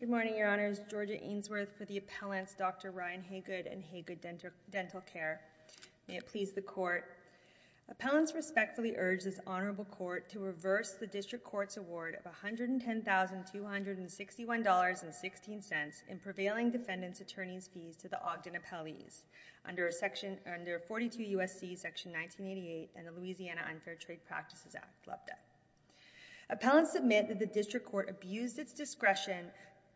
Good morning, Your Honors. Georgia Ainsworth for the Appellant's Dr. Ryan Haygood and Haygood Dental Care. May it please the Court. Appellants respectfully urge this Honorable Court to reverse the District Court's award of $110,261.16 in prevailing defendant's attorney's fees to the Ogden Appellees under 42 U.S.C. Section 1988 and the Louisiana Unfair Trade Practices Act. Love that. Appellants submit that the District Court abused its discretion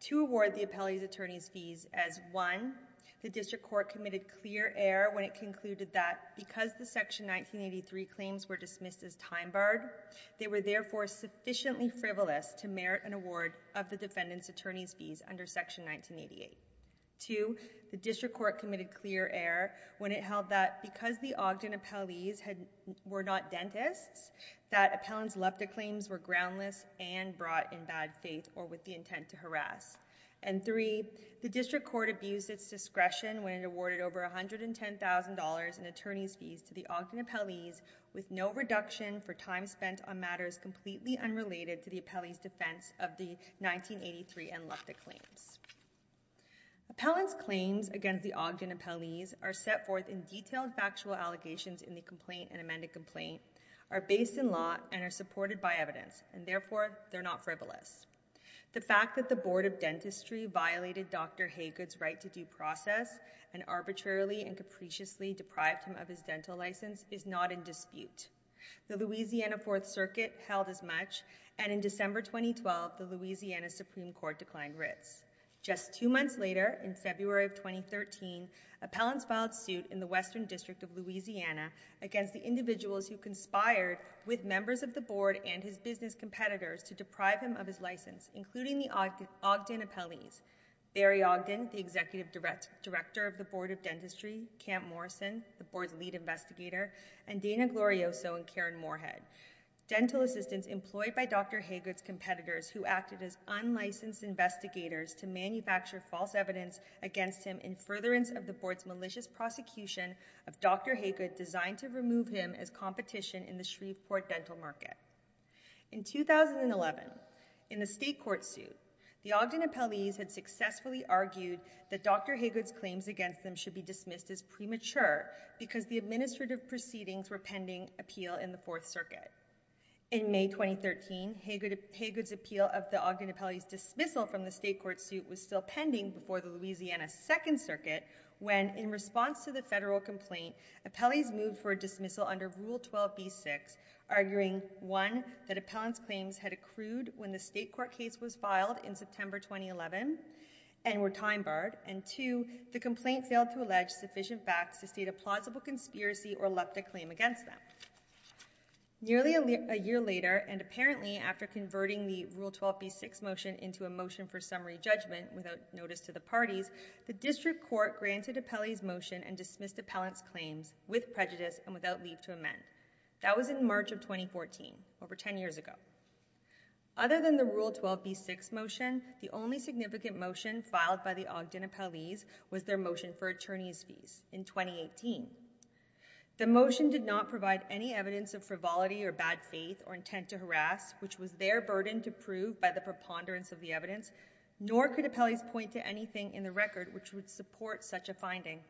to award the appellee's attorney's fees as, one, the District Court committed clear error when it concluded that, because the Section 1983 claims were dismissed as time-barred, they were therefore sufficiently frivolous to merit an award of the defendant's attorney's fees under Section 1988. Two, the District Court committed clear error when it held that, because the Ogden Appellees were not dentists, that appellant's LEPTA claims were groundless and brought in bad faith or with the intent to harass. And three, the District Court abused its discretion when it awarded over $110,000 in attorney's fees to the Ogden Appellees with no reduction for time spent on matters completely unrelated to the appellee's defense of the 1983 and LEPTA claims. Appellants' claims against the Ogden Appellees are set forth in detailed factual allegations in the complaint and amended complaint, are based in law, and are supported by evidence, and therefore, they're not frivolous. The fact that the Board of Dentistry violated Dr. Haygood's right to due process and arbitrarily and capriciously deprived him of his dental license is not in dispute. The Louisiana Fourth Circuit held as much, and in December 2012, the Louisiana Supreme Court declined writs. Just two months later, in February of 2013, appellants filed suit in the Western District of Louisiana against the individuals who conspired with members of the Board and his business competitors to deprive him of his license, including the Ogden Appellees, Barry Ogden, the Executive Director of the Board of Dentistry, Camp Morrison, the Board's lead investigator, and Dana Glorioso and Karen Moorhead, dental assistants employed by Dr. Haygood's competitors who acted as unlicensed investigators to manufacture false evidence against him in furtherance of the Board's malicious prosecution of Dr. Haygood designed to remove him as competition in the Shreveport dental market. In 2011, in the state court suit, the Ogden Appellees had successfully argued that Dr. Haygood's claims against them should be dismissed as premature because the administrative proceedings were pending appeal in the Fourth Circuit. In May 2013, Haygood's appeal of the Ogden Appellees' dismissal from the state court suit was still pending before the Louisiana Second Circuit when, in response to the federal court complaint, appellees moved for a dismissal under Rule 12b-6, arguing, one, that appellants' claims had accrued when the state court case was filed in September 2011 and were timebarred, and two, the complaint failed to allege sufficient facts to state a plausible conspiracy or left a claim against them. Nearly a year later, and apparently after converting the Rule 12b-6 motion into a motion for summary judgment without notice to the parties, the district court granted appellees' motion and dismissed appellants' claims with prejudice and without leave to amend. That was in March of 2014, over 10 years ago. Other than the Rule 12b-6 motion, the only significant motion filed by the Ogden Appellees was their motion for attorney's fees in 2018. The motion did not provide any evidence of frivolity or bad faith or intent to harass, which was their burden to prove by the preponderance of the evidence, nor could appellees point to anything in the record which would support such a finding.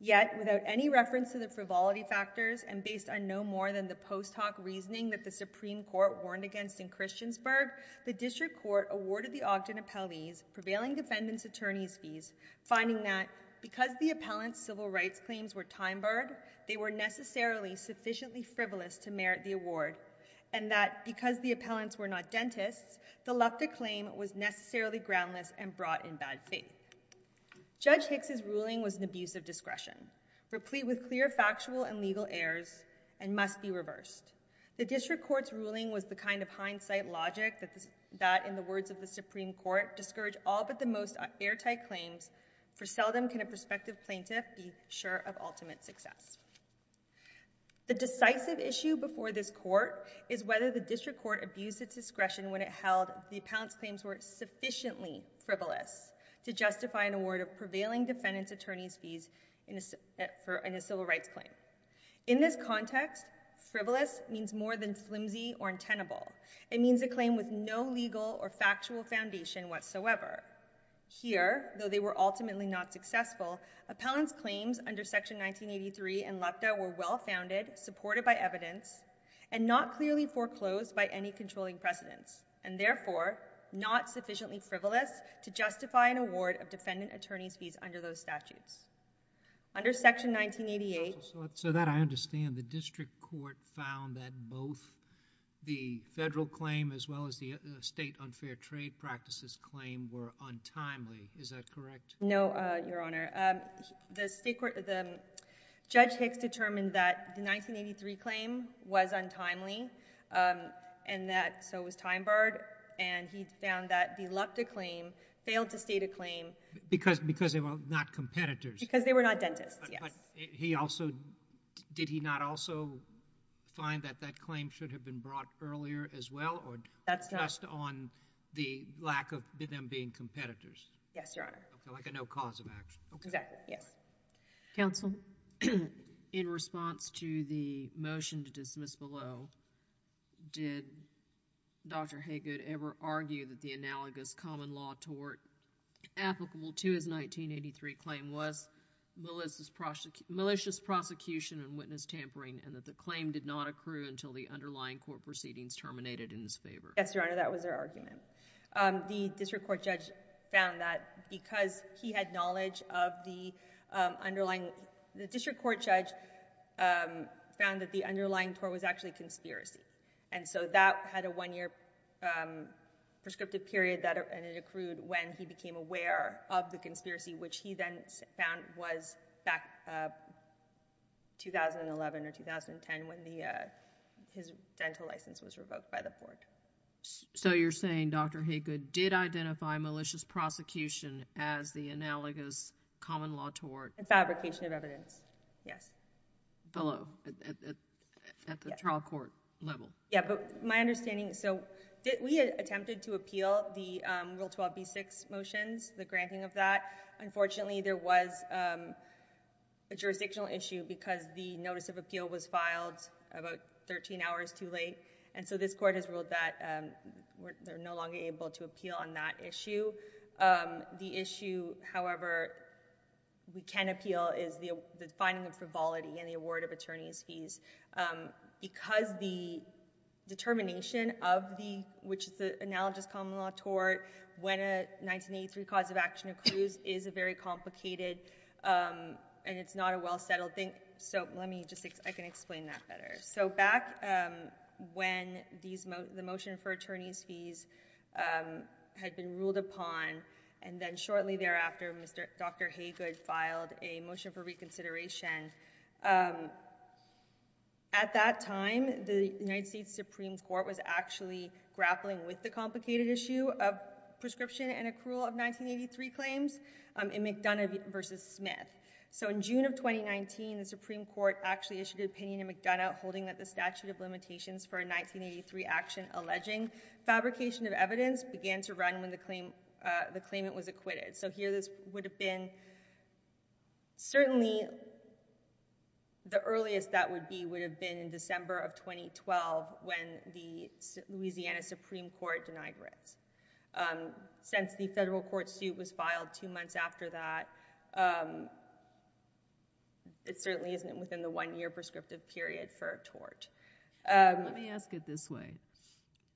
Yet, without any reference to the frivolity factors and based on no more than the post-hoc reasoning that the Supreme Court warned against in Christiansburg, the district court awarded the Ogden Appellees prevailing defendant's attorney's fees, finding that, because the appellants' civil rights claims were timebarred, they were necessarily sufficiently frivolous to merit the award, and that, because the appellants were not dentists, the Lukda claim was necessarily groundless and brought in bad faith. Judge Hicks' ruling was an abuse of discretion, replete with clear factual and legal errors, and must be reversed. The district court's ruling was the kind of hindsight logic that, in the words of the Supreme Court, discourage all but the most airtight claims, for seldom can a prospective plaintiff be sure of ultimate success. The decisive issue before this court is whether the district court abused its discretion when it held the appellants' claims were sufficiently frivolous to justify an award of prevailing defendant's attorney's fees in a civil rights claim. In this context, frivolous means more than flimsy or untenable. It means a claim with no legal or factual foundation whatsoever. Here, though they were ultimately not successful, appellants' claims under Section 1983 and Lukda were well-founded, supported by evidence, and not clearly foreclosed by any controlling precedents, and therefore not sufficiently frivolous to justify an award of defendant attorney's fees under those statutes. Under Section 1988— So that I understand, the district court found that both the federal claim as well as the state unfair trade practices claim were untimely. Is that correct? No, Your Honor. The state court—the Judge Hicks determined that the 1983 claim was untimely, and that—so it was time-barred, and he found that the Lukda claim failed to state a claim— Because they were not competitors. Because they were not dentists, yes. He also—did he not also find that that claim should have been brought earlier as well, or— That's not— Just on the lack of them being competitors? Yes, Your Honor. Like a no cause of action. Exactly, yes. Counsel, in response to the motion to dismiss below, did Dr. Haygood ever argue that the common law tort applicable to his 1983 claim was malicious prosecution and witness tampering, and that the claim did not accrue until the underlying court proceedings terminated in his favor? Yes, Your Honor, that was their argument. The district court judge found that because he had knowledge of the underlying—the district court judge found that the underlying tort was actually And so that had a one-year prescriptive period, and it accrued when he became aware of the conspiracy, which he then found was back in 2011 or 2010 when his dental license was revoked by the court. So you're saying Dr. Haygood did identify malicious prosecution as the analogous common law tort? In fabrication of evidence, yes. Below, at the trial court level. Yeah, but my understanding—so we attempted to appeal the Rule 12b-6 motions, the granting of that. Unfortunately, there was a jurisdictional issue because the notice of appeal was filed about 13 hours too late, and so this court has ruled that we're no longer able to appeal on that issue. The issue, however, we can appeal is the finding of frivolity in the award of attorney's fees because the determination of the—which is the analogous common law tort when a 1983 cause of action accrues is very complicated, and it's not a well-settled thing. So let me just—I can explain that better. So back when the motion for attorney's fees had been ruled upon, and then shortly thereafter, Dr. Haygood filed a motion for reconsideration. At that time, the United States Supreme Court was actually grappling with the complicated issue of prescription and accrual of 1983 claims in McDonough v. Smith. So in June of 2019, the Supreme Court actually issued an opinion in McDonough holding that the statute of limitations for a 1983 action alleging fabrication of evidence began to run when the claim—the claimant was acquitted. So here this would have been—certainly the earliest that would be would have been in December of 2012 when the Louisiana Supreme Court denied it. Since the federal court suit was filed two months after that, it certainly isn't within the one-year prescriptive period for a tort. Let me ask it this way.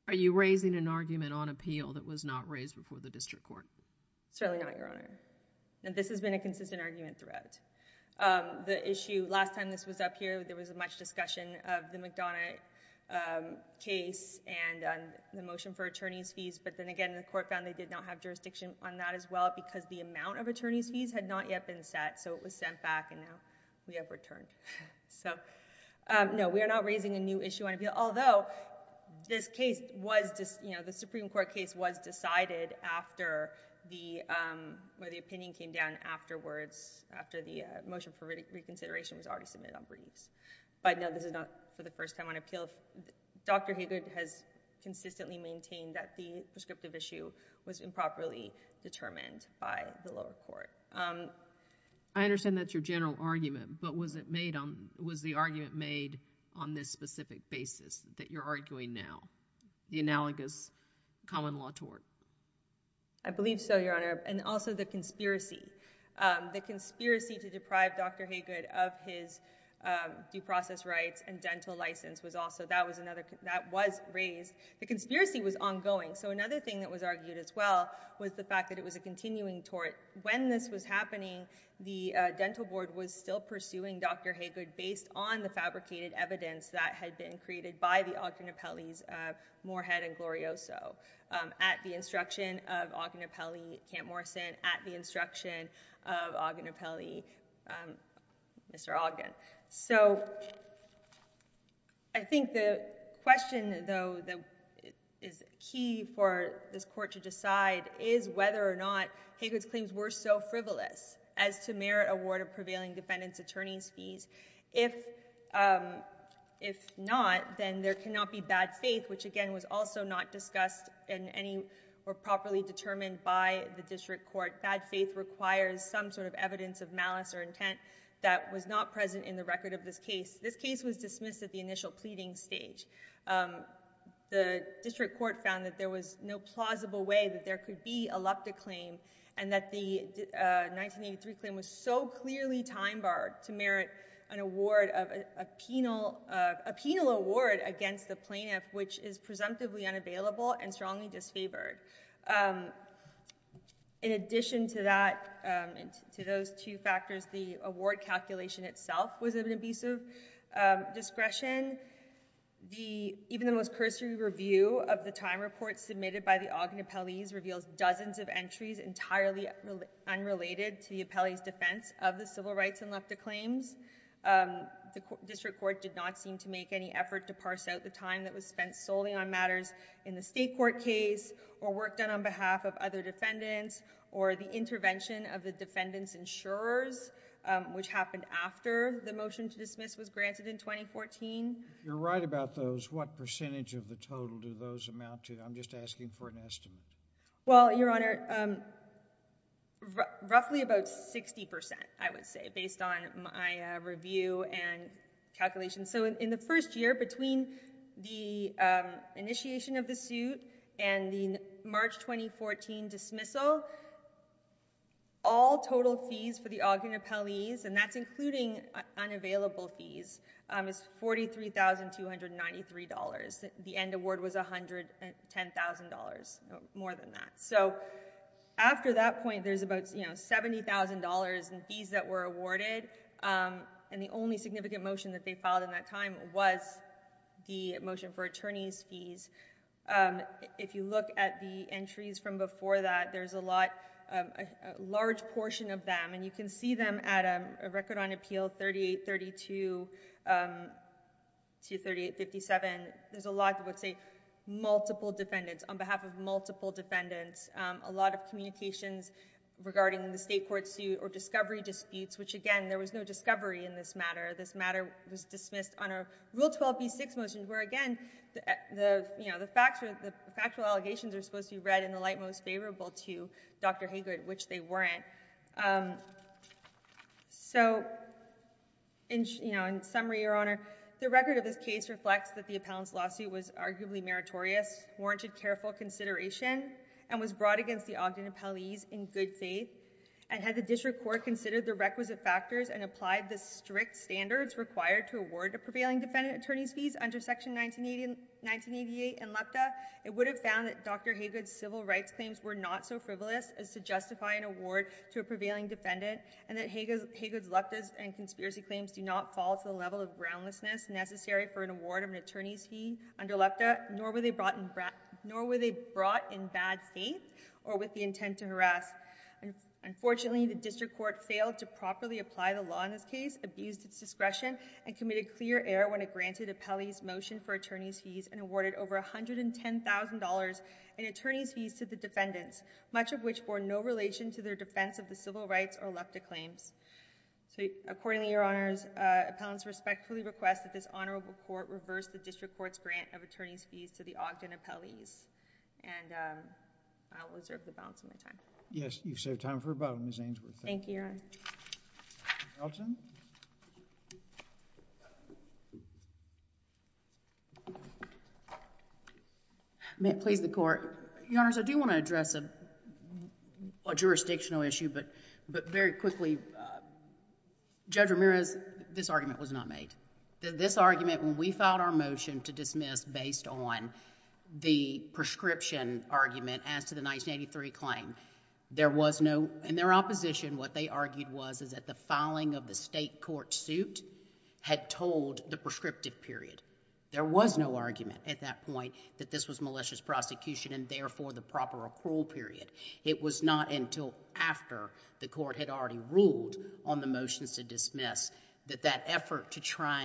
Are you raising an argument on appeal that was not raised before the district court? Certainly not, Your Honor. And this has been a consistent argument throughout. The issue—last time this was up here, there was much discussion of the McDonough case and on the motion for attorney's fees, but then again, the court found they did not have jurisdiction on that as well because the amount of attorney's fees had not yet been set, so it was sent back and now we have returned. So no, we are not raising a new issue on appeal, although this case was—you know, the Supreme Court case was decided after the—where the opinion came down afterwards, after the motion for reconsideration was already submitted on briefs. But no, this is not for the first time on appeal. Dr. Haggard has consistently maintained that the prescriptive issue was improperly determined by the lower court. I understand that's your general argument, but was it made on—was the argument made on this specific basis that you're arguing now, the analogous common law tort? I believe so, Your Honor, and also the conspiracy. The conspiracy to deprive Dr. Haggard of his due process rights and dental license was also—that was another—that was raised. The conspiracy was ongoing, so another thing that was argued as well was the fact that it was a continuing tort. When this was happening, the dental board was still pursuing Dr. Haggard based on the fabricated evidence that had been created by the Ogden Appellees Moorhead and Glorioso at the instruction of Ogden Appellee Camp Morrison at the instruction of Ogden Appellee, Mr. Ogden. So I think the question, though, that is key for this court to decide is whether or not Haggard's claims were so frivolous as to merit award of prevailing defendant's attorney's fees. If not, then there cannot be bad faith, which again was also not in any or properly determined by the district court. Bad faith requires some sort of evidence of malice or intent that was not present in the record of this case. This case was dismissed at the initial pleading stage. The district court found that there was no plausible way that there could be a lupta claim and that the 1983 claim was so clearly time barred to merit an award of a and strongly disfavored. In addition to that, to those two factors, the award calculation itself was of an abusive discretion. Even the most cursory review of the time report submitted by the Ogden Appellees reveals dozens of entries entirely unrelated to the appellee's defense of the civil rights and lupta claims. The district court did not seem to make any effort to parse out the time that was spent solely on matters in the state court case or work done on behalf of other defendants or the intervention of the defendant's insurers, which happened after the motion to dismiss was granted in 2014. You're right about those. What percentage of the total do those amount to? I'm just asking for an estimate. Well, your honor, roughly about 60 percent, I would say, based on my review and calculations. So in the first year between the initiation of the suit and the March 2014 dismissal, all total fees for the Ogden Appellees, and that's including unavailable fees, is $43,293. The end award was $110,000, more than that. So after that point, there's about, you know, $70,000 in fees that were awarded. And the only significant motion that they filed in that time was the motion for attorney's fees. If you look at the entries from before that, there's a lot, a large portion of them, and you can see them at Record on Appeal 3832 to 3857. There's a lot that would say multiple defendants on behalf of multiple defendants. A lot of communications regarding the state court suit or discovery disputes, which again, there was no discovery in this matter. This matter was dismissed on a Rule 12b6 motion, where again, the, you know, the facts are, the factual allegations are supposed to be read in the light most favorable to Dr. Haygood, which they weren't. So in, you know, in summary, your honor, the record of this case reflects that the appellant's lawsuit was arguably meritorious, warranted careful consideration, and was brought against the Ogden appellees in good faith. And had the district court considered the requisite factors and applied the strict standards required to award a prevailing defendant attorney's fees under Section 1988 and LUCTA, it would have found that Dr. Haygood's civil rights claims were not so frivolous as to justify an award to a prevailing defendant, and that Haygood's LUCTAs and conspiracy claims do not fall to the level of groundlessness necessary for an award of an attorney's fee under LUCTA, nor were they brought in bad faith or with the intent to harass. Unfortunately, the district court failed to properly apply the law in this case, abused its discretion, and committed clear error when it granted appellees motion for attorney's fees and awarded over $110,000 in attorney's fees to the defendants, much of which bore no relation to their defense of the civil rights or LUCTA claims. So accordingly, your honors, appellants respectfully request that this honorable court reverse the district court's grant of attorney's fees to the Ogden appellees, and I will reserve the balance of my time. JUSTICE SCALIA. Yes, you've saved time for about Ms. Ainsworth. MS. AINSWORTH. Thank you, Your Honor. JUSTICE SCALIA. Ms. Elton. MS. ELTON. May it please the Court. Your Honors, I do want to address a jurisdictional issue, but very quickly, Judge Ramirez, this argument was not made. This argument, when we filed our motion to dismiss based on the prescription argument as to the 1983 claim, there was no, in their opposition, what they argued was that the filing of the state court suit had told the prescriptive period. There was no argument at that point that this was malicious prosecution and therefore the proper accrual period. It was not until after the court had already ruled on the motions to dismiss that that effort to try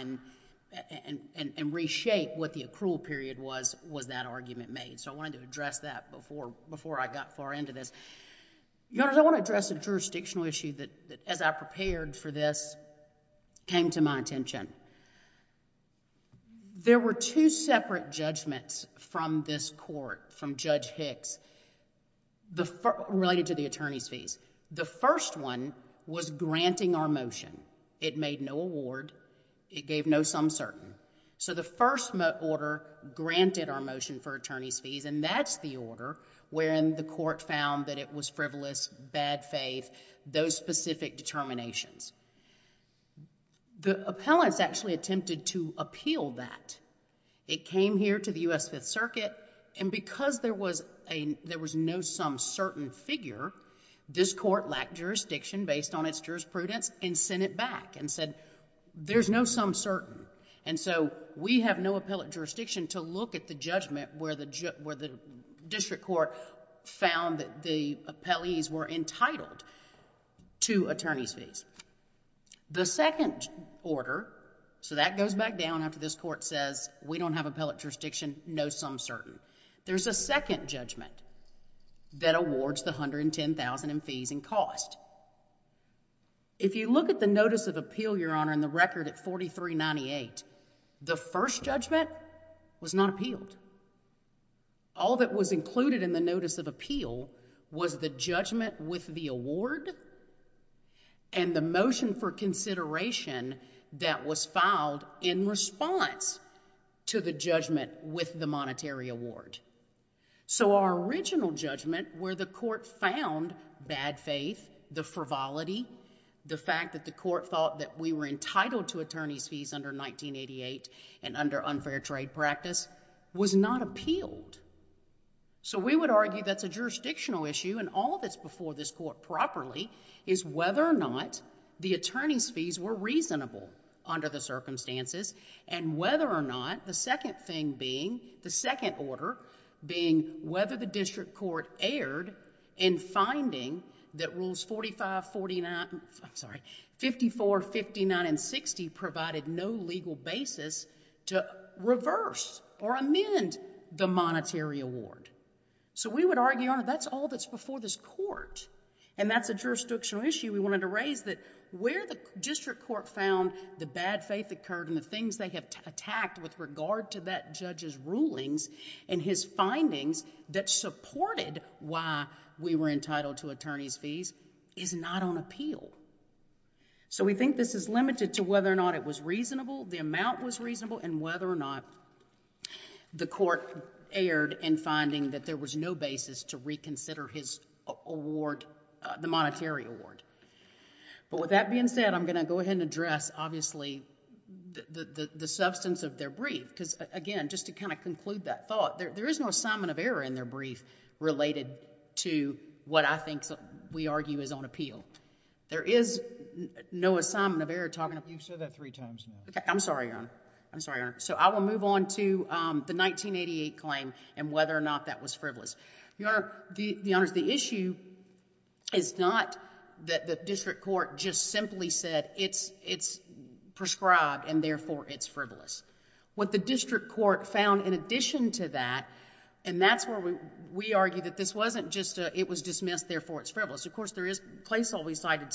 and reshape what the accrual period was, was that argument made. So I wanted to address that before I got far into this. Your Honors, I want to address a jurisdictional issue that, as I prepared for this, came to my attention. There were two separate judgments from this court, from Judge Hicks, the, related to the attorney's fees. The first one was granting our motion. It made no award. It gave no sum certain. So the first order granted our motion for attorney's fees, and that's the order wherein the court found that it was frivolous, bad faith, those specific determinations. The appellants actually attempted to appeal that. It came here to the U.S. Fifth Circuit, and because there was a, there was no sum certain figure, this court lacked jurisdiction based on its jurisprudence and sent it back and said, there's no sum certain. And so we have no appellate jurisdiction to look at the judgment where the, where the district court found that the appellees were entitled to attorney's fees. The second order, so that goes back down after this court says, we don't have appellate jurisdiction, no sum certain. There's a second judgment that awards the $110,000 in fees and cost. If you look at the notice of appeal, Your Honor, in the record at 4398, the first judgment was not appealed. All that was included in the notice of appeal was the judgment with the award and the motion for consideration that was filed in response to the judgment with the monetary award. So our original judgment where the court found bad faith, the frivolity, the fact that the court thought that we were entitled to attorney's fees under 1988 and under unfair trade practice, was not appealed. So we would argue that's a jurisdictional issue and all that's before this court properly is whether or not the attorney's fees were reasonable under the circumstances and whether or not the second thing being, the second order being whether the district court erred in finding that rules 45, 49, I'm sorry, 54, 59, and 60 provided no legal basis to reverse or amend the monetary award. So we would argue, Your Honor, that's all that's before this court and that's a jurisdictional issue. We wanted to raise that where the district court found the bad faith occurred and the things they have attacked with regard to that judge's rulings and his findings that supported why we were entitled to attorney's fees is not on appeal. So we think this is limited to whether or not it was reasonable, the amount was reasonable, and whether or not the court erred in finding that there was no basis to reconsider his award, the monetary award. But with that being said, I'm going to go ahead and address, obviously, the substance of their brief because, again, just to kind of conclude that thought, there is no assignment of error in their brief related to what I think we argue is on appeal. There is no assignment of error talking about... You've said that three times now. I'm sorry, Your Honor. I'm sorry, Your Honor. So I will move on to the 1988 claim and whether or not that was frivolous. Your Honor, the issue is not that the district court just simply said it's prescribed and therefore it's frivolous. What the district court found in addition to that, and that's where we argue that this wasn't just a it was dismissed, therefore it's frivolous. Of course, there is placeholding cited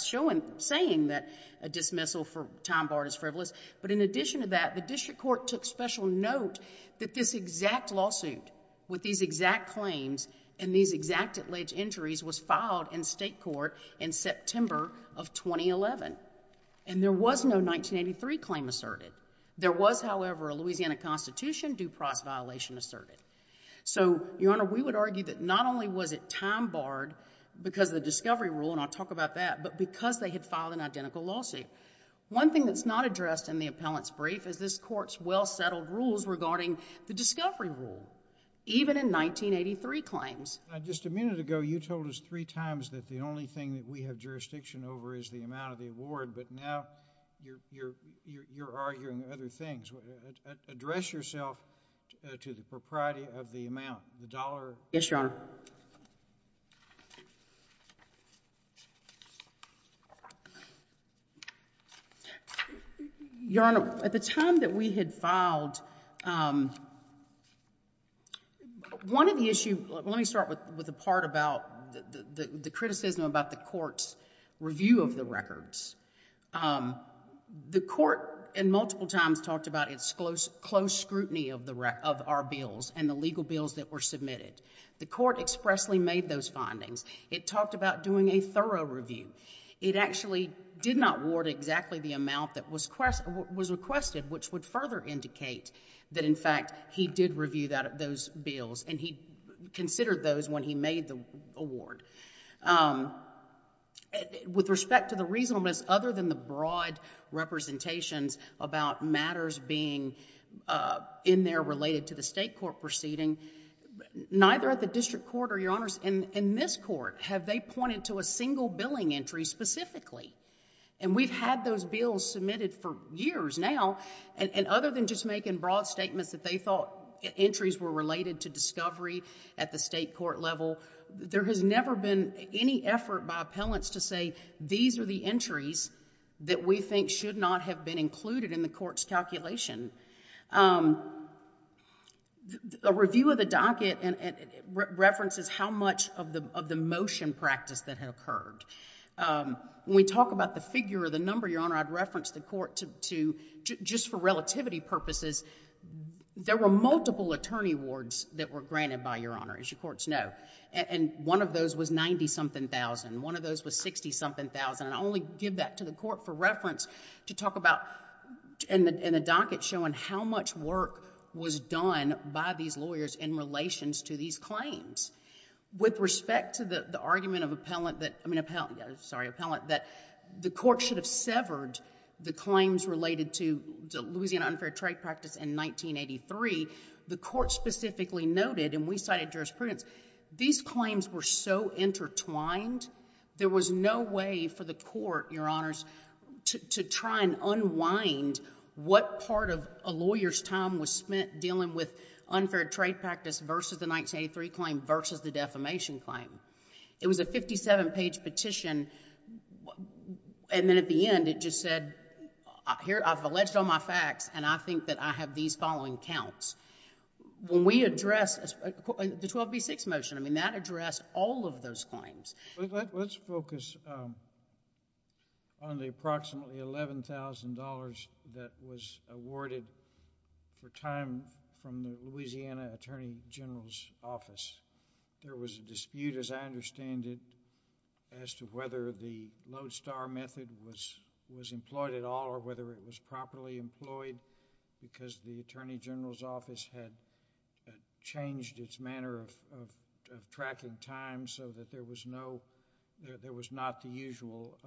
saying that a dismissal for time barred is frivolous. But in addition to that, the district court took special note that this exact lawsuit with these exact claims and these exact alleged injuries was filed in state court in September of 2011. And there was no 1983 claim asserted. There was, however, a Louisiana Constitution due process violation asserted. So, Your Honor, we would argue that not only was it time barred because of the discovery rule, and I'll talk about that, but because they had filed an identical lawsuit. One thing that's not addressed in the appellant's brief is this court's well-settled rules regarding the discovery rule, even in 1983 claims. Just a minute ago, you told us three times that the only thing that we have jurisdiction over is the amount of the award, but now you're arguing other things. Address yourself to the propriety of the amount, the dollar. Yes, Your Honor. Your Honor, at the time that we had filed, one of the issues, let me start with a part about the criticism about the court's review of the records. The court in multiple times talked about its close scrutiny of our bills and the legal bills that were submitted. The court expressly made those findings. It talked about doing a thorough review. It actually did not award exactly the amount that was requested, which would further indicate that, in fact, he did review those bills, and he considered those when he made the award. With respect to the reasonableness, other than the broad representations about matters being in there related to the state court proceeding, neither at the district court or, Your Honors, in this court have they pointed to a single billing entry specifically. We've had those bills submitted for years now, and other than just making broad statements that they thought entries were related to discovery at the state court level, there has never been any effort by appellants to say, these are the entries that we think should not have been included in the court's calculation. A review of the docket references how much of the motion practice that had occurred. When we talk about the figure or the number, Your Honor, I'd reference the court to, just for relativity purposes, there were multiple attorney awards that were granted by Your Honor, as your courts know, and one of those was 90-something thousand. One of those was 60-something thousand, and I only give that to the court for reference to talk about in the docket showing how much work was done by these lawyers in relations to these claims. With respect to the argument of appellant that, I mean, sorry, appellant, that the court should have severed the claims related to Louisiana unfair trade practice in 1983, the court specifically noted, and we cited jurisprudence, these claims were so intertwined, there was no way for the court, Your Honors, to try and unwind what part of a lawyer's time was spent dealing with unfair trade practice versus the 1983 claim versus the defamation claim. It was a 57-page petition, and then at the end it just said, here, I've alleged all my facts, and I think that I have these following counts. When we address the 12B6 motion, I mean, that addressed all of those claims. Let's focus on the approximately $11,000 that was awarded for time from the Louisiana Attorney General's office. There was a dispute, as I understand it, as to whether the Lodestar method was employed at all or whether it was properly employed because the Attorney General's office had changed its manner of tracking time so that there was no, there was not the usual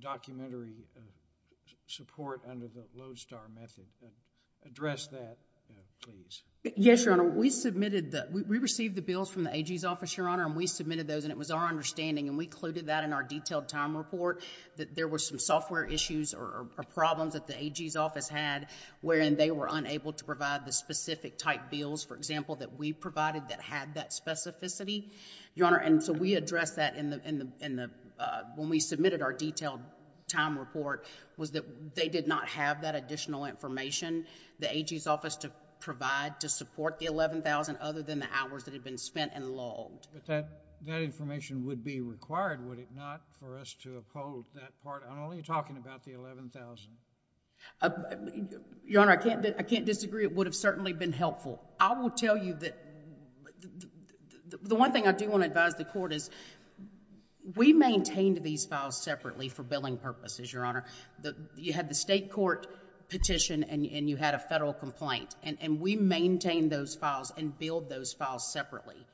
documentary support under the Lodestar method. Address that, please. Yes, Your Honor. We submitted the, we received the bills from the AG's office, Your Honor, and we submitted those, and it was our understanding, and we included that in our detailed time report, that there were some software issues or problems that the AG's office had wherein they were unable to provide the specific type bills, for example, that we provided that had that specificity, Your Honor, and so we addressed that in the, when we submitted our detailed time report was that they did not have that additional information the AG's office to provide to support the $11,000 other than the hours that had been spent and logged. But that information would be required, would it not, for us to uphold that part? I'm only talking about the $11,000. Your Honor, I can't disagree. It would have certainly been helpful. I will tell you that the one thing I do want to advise the Court is we maintained these files separately for billing purposes, Your Honor. You had the state court petition and you had a federal complaint, and we maintained those files and billed those files separately,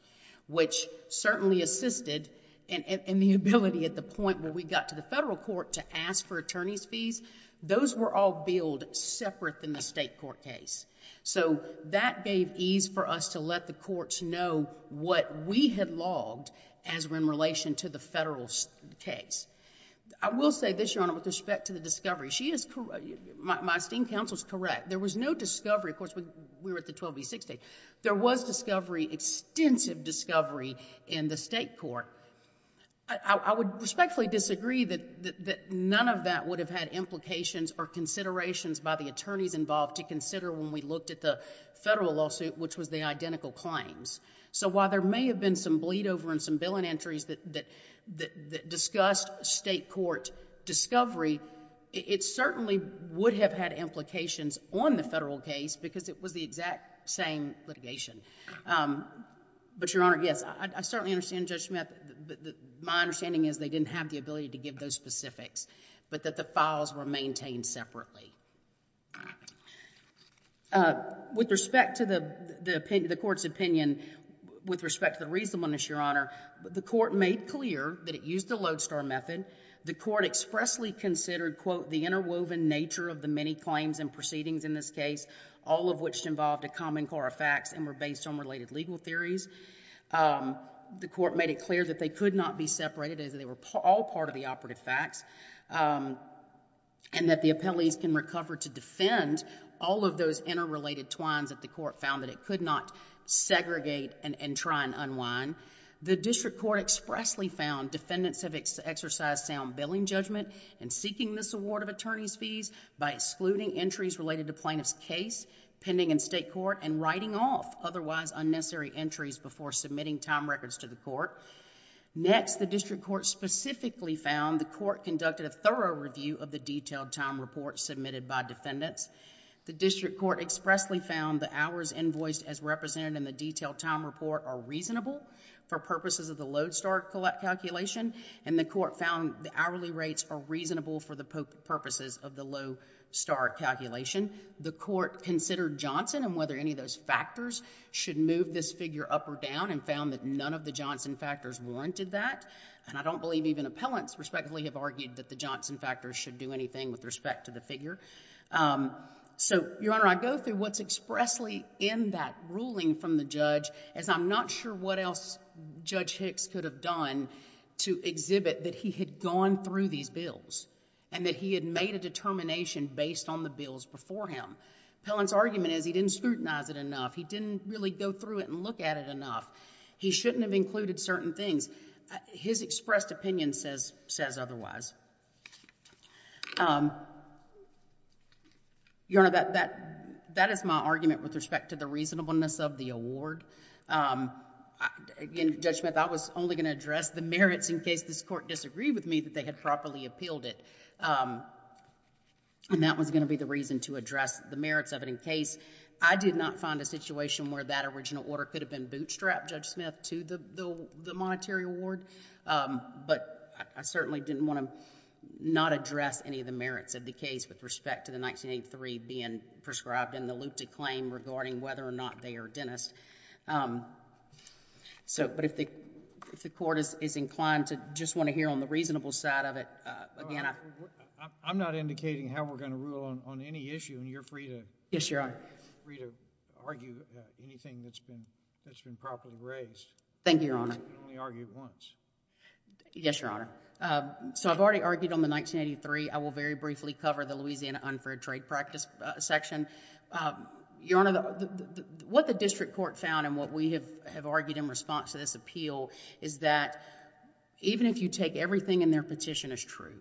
which certainly assisted in the ability at the point where we got to the federal court to ask for attorney's fees, those were all billed separate than the state court case. So that gave ease for us to let the courts know what we had logged as in relation to the federal case. I will say this, Your Honor, with respect to the discovery. She is, my esteemed counsel is correct. There was no discovery. Of course, we were at the 12 v. 6 stage. There was discovery, extensive discovery in the state court. I would respectfully disagree that none of that would have had implications or considerations by the attorneys involved to consider when we looked at the federal lawsuit, which was the identical claims. So while there may have been some bleed over and some billing entries that discussed state court discovery, it certainly would have had implications on the federal case because it was the exact same litigation. But, Your Honor, yes, I certainly understand Judge Smith. My understanding is they didn't have the ability to give those specifics, but that the files were maintained separately. With respect to the court's opinion, with respect to the reasonableness, Your Honor, the court made clear that it used the lodestar method. The court expressly considered, quote, the interwoven nature of the many claims and proceedings in this case, all of which involved a common core of facts and were based on related legal theories. The court made it clear that they could not be separated, that they were all part of the operative facts, and that the appellees can recover to defend all of those interrelated twines that the court found that it could not segregate and try and unwind. The district court expressly found defendants have exercised sound billing judgment in seeking this award of attorney's fees by excluding entries related to plaintiff's case pending in state court and writing off otherwise unnecessary entries before submitting time records to the court. Next, the district court specifically found the court conducted a thorough review of the detailed time report submitted by defendants. The district court expressly found the hours invoiced as represented in the detailed time report are reasonable for purposes of the lodestar calculation, and the court found the hourly rates are reasonable for the purposes of the lodestar calculation. The court considered Johnson and whether any of those factors should move this figure up or down and found that none of the Johnson factors warranted that. And I don't believe even appellants respectfully have argued that the Johnson factors should do anything with respect to the figure. So, Your Honor, I go through what's expressly in that ruling from the judge as I'm not sure what else Judge Hicks could have done to exhibit that he had gone through these bills and that he had made a determination based on the bills before him. Appellant's argument is he didn't scrutinize it enough. He didn't really go through it and look at it enough. He shouldn't have included certain things. His expressed opinion says otherwise. Your Honor, that is my argument with respect to the reasonableness of the award. Again, Judge Smith, I was only going to address the merits in case this court disagreed with me that they had properly appealed it. And that was going to be the reason to address the merits of it in case I did not find a situation where that original order could have been bootstrapped, Judge Smith, to the monetary award. But I certainly didn't want to not address any of the merits of the case with respect to the 1983 being prescribed in the loop to claim regarding whether or not they are dentists. But if the court is inclined to just want to hear on the reasonable side of it, again, I... I'm not indicating how we're going to rule on any issue, and you're free to... Yes, Your Honor.... free to argue anything that's been properly raised. Thank you, Your Honor. You can only argue once. Yes, Your Honor. So I've already argued on the 1983. I will very briefly cover the Louisiana unfair trade practice section. Your Honor, what the district court found and what we have argued in response to this appeal is that even if you take everything in their petition as true,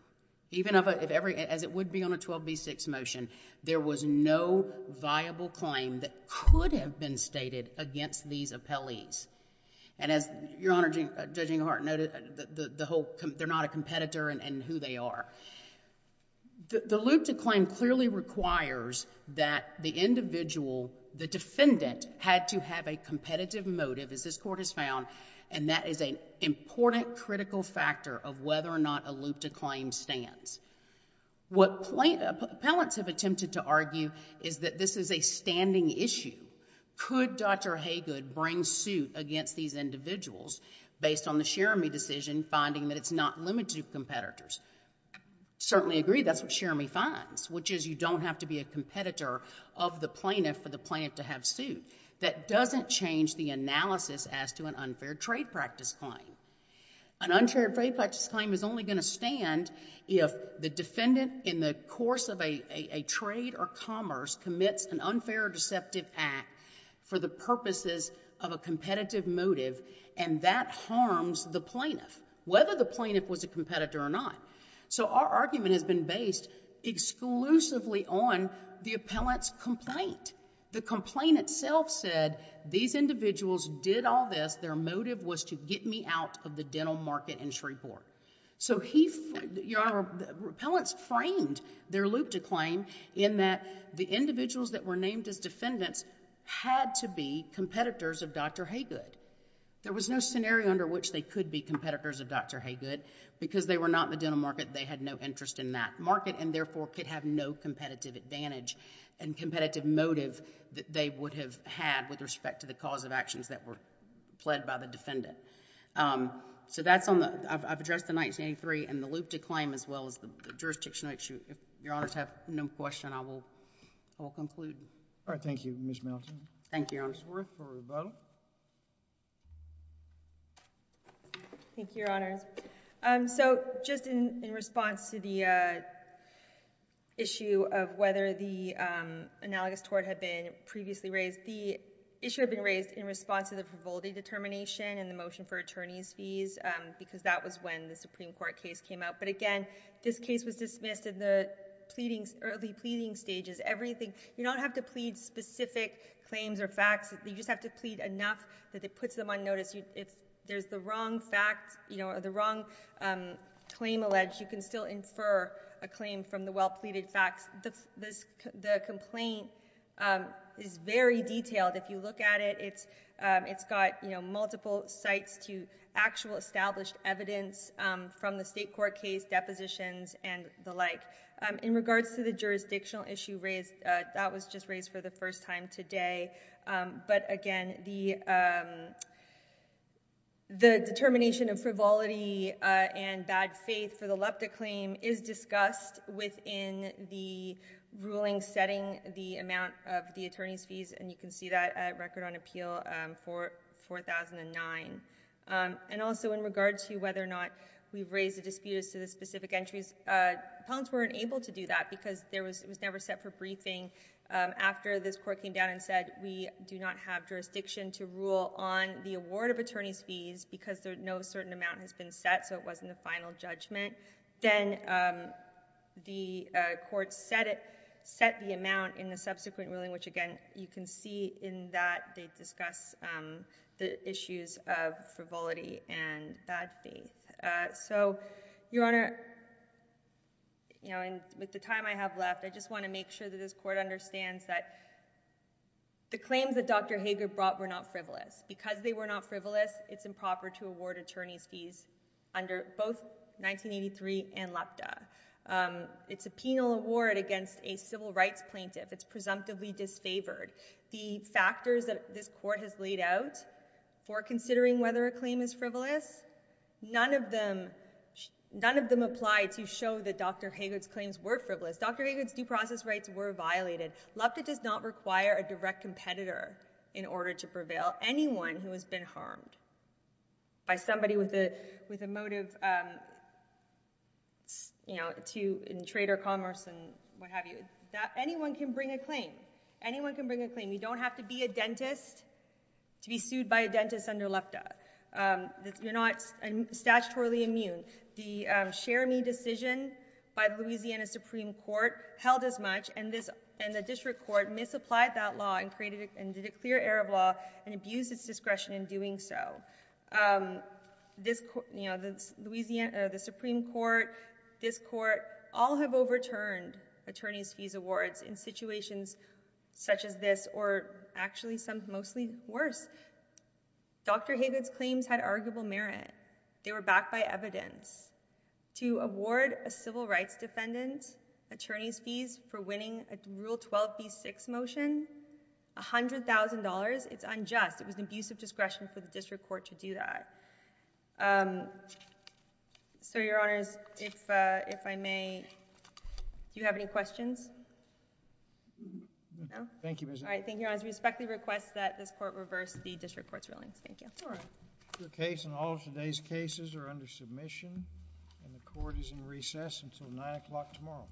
even if every... as it would be on a 12b6 motion, there was no viable claim that could have been stated against these appellees. And as Your Honor, Judging Hart noted, the whole... they're not a competitor in who they are. The loop to claim clearly requires that the individual, the defendant, had to have a competitive motive, as this court has found, and that is an important critical factor of whether or not a loop to claim stands. What plaintiffs... appellants have attempted to argue is that this is a standing issue. Could Dr. Haygood bring suit against these individuals based on the Sheramine decision, finding that it's not limited to competitors? Certainly agree, that's what Sheramine finds, which is you don't have to be a competitor of the plaintiff for the plaintiff to have suit. That doesn't change the analysis as to an unfair trade practice claim. An unfair trade practice claim is only going to stand if the defendant, in the course of a trade or commerce, commits an unfair or deceptive act for the purposes of a competitive motive, and that harms the plaintiff, whether the plaintiff was a competitor or not. So our argument has been based exclusively on the appellant's complaint. The complaint itself said these individuals did all this, their motive was to get me out of the dental market in Shreveport. So he... Your Honor, appellants framed their loop to claim in that the individuals that were named as defendants had to be competitors of Dr. Haygood. There was no scenario under which they could be competitors of Dr. Haygood, because they were not in the dental market, they had no interest in that market, and therefore could have no competitive advantage and competitive motive that they would have had with respect to the cause of actions that were pled by the defendant. So that's on the... I've addressed the 1983 and the loop to claim, as well as the jurisdictional issue. If Your Honors have no question, I will conclude. All right. Thank you, Ms. Melton. Thank you, Your Honor. Ms. Ruth for rebuttal. Thank you, Your Honor. So just in response to the issue of whether the analogous tort had previously raised, the issue had been raised in response to the Vivaldi determination and the motion for attorney's fees, because that was when the Supreme Court case came out. But again, this case was dismissed in the early pleading stages. You don't have to plead specific claims or facts, you just have to plead enough that it puts them on notice. If there's the wrong fact, you know, or the wrong claim alleged, you can still infer a claim from the well-pleaded facts. The complaint is very detailed. If you look at it, it's got multiple sites to actual established evidence from the state court case, depositions, and the like. In regards to the jurisdictional issue raised, that was just raised for the first time today. But again, the determination of Vivaldi and bad faith for the LEPTA claim is discussed within the ruling setting the amount of the attorney's fees, and you can see that at Record on Appeal 4009. And also, in regards to whether or not we've raised a dispute as to the specific entries, appellants weren't able to do that because it was never set for briefing after this court came down and said, we do not have jurisdiction to rule on the award of attorney's fees because no certain amount has been set, so it wasn't a final judgment. Then the court set the amount in the subsequent ruling, which again, you can see in that they discuss the issues of frivolity and bad faith. So, Your Honor, you know, with the time I have left, I just want to make sure that this court understands that the claims that Dr. Haygood brought were not frivolous. Because they were not frivolous, it's improper to award attorney's fees under both 1983 and LEPTA. It's a penal award against a civil rights plaintiff. It's presumptively disfavored. The factors that this court has laid out for considering whether a claim is frivolous, none of them apply to show that Dr. Haygood's frivolous. Dr. Haygood's due process rights were violated. LEPTA does not require a direct competitor in order to prevail. Anyone who has been harmed by somebody with a motive, you know, in trade or commerce and what have you, anyone can bring a claim. Anyone can bring a claim. You don't have to be a dentist to be sued by a dentist under LEPTA. You're not statutorily immune. The Sheremy decision by the Louisiana Supreme Court held as much, and the district court misapplied that law and created a clear air of law and abused its discretion in doing so. The Supreme Court, this court, all have overturned attorney's fees awards in situations such as this or actually some mostly worse. Dr. Haygood's claims had arguable merit. They were backed by evidence. To award a civil rights defendant attorney's fees for winning a Rule 12b6 motion, $100,000, it's unjust. It was an abuse of discretion for the district court to do that. So, Your Honors, if I may, do you have any questions? No? Thank you, Ms. Haygood. All right, thank you, Your Honors. We respectfully request that this court reverse the district court's ruling. Thank you. That's all right. Your case and all of today's cases are under submission and the court is in recess until 9 o'clock tomorrow.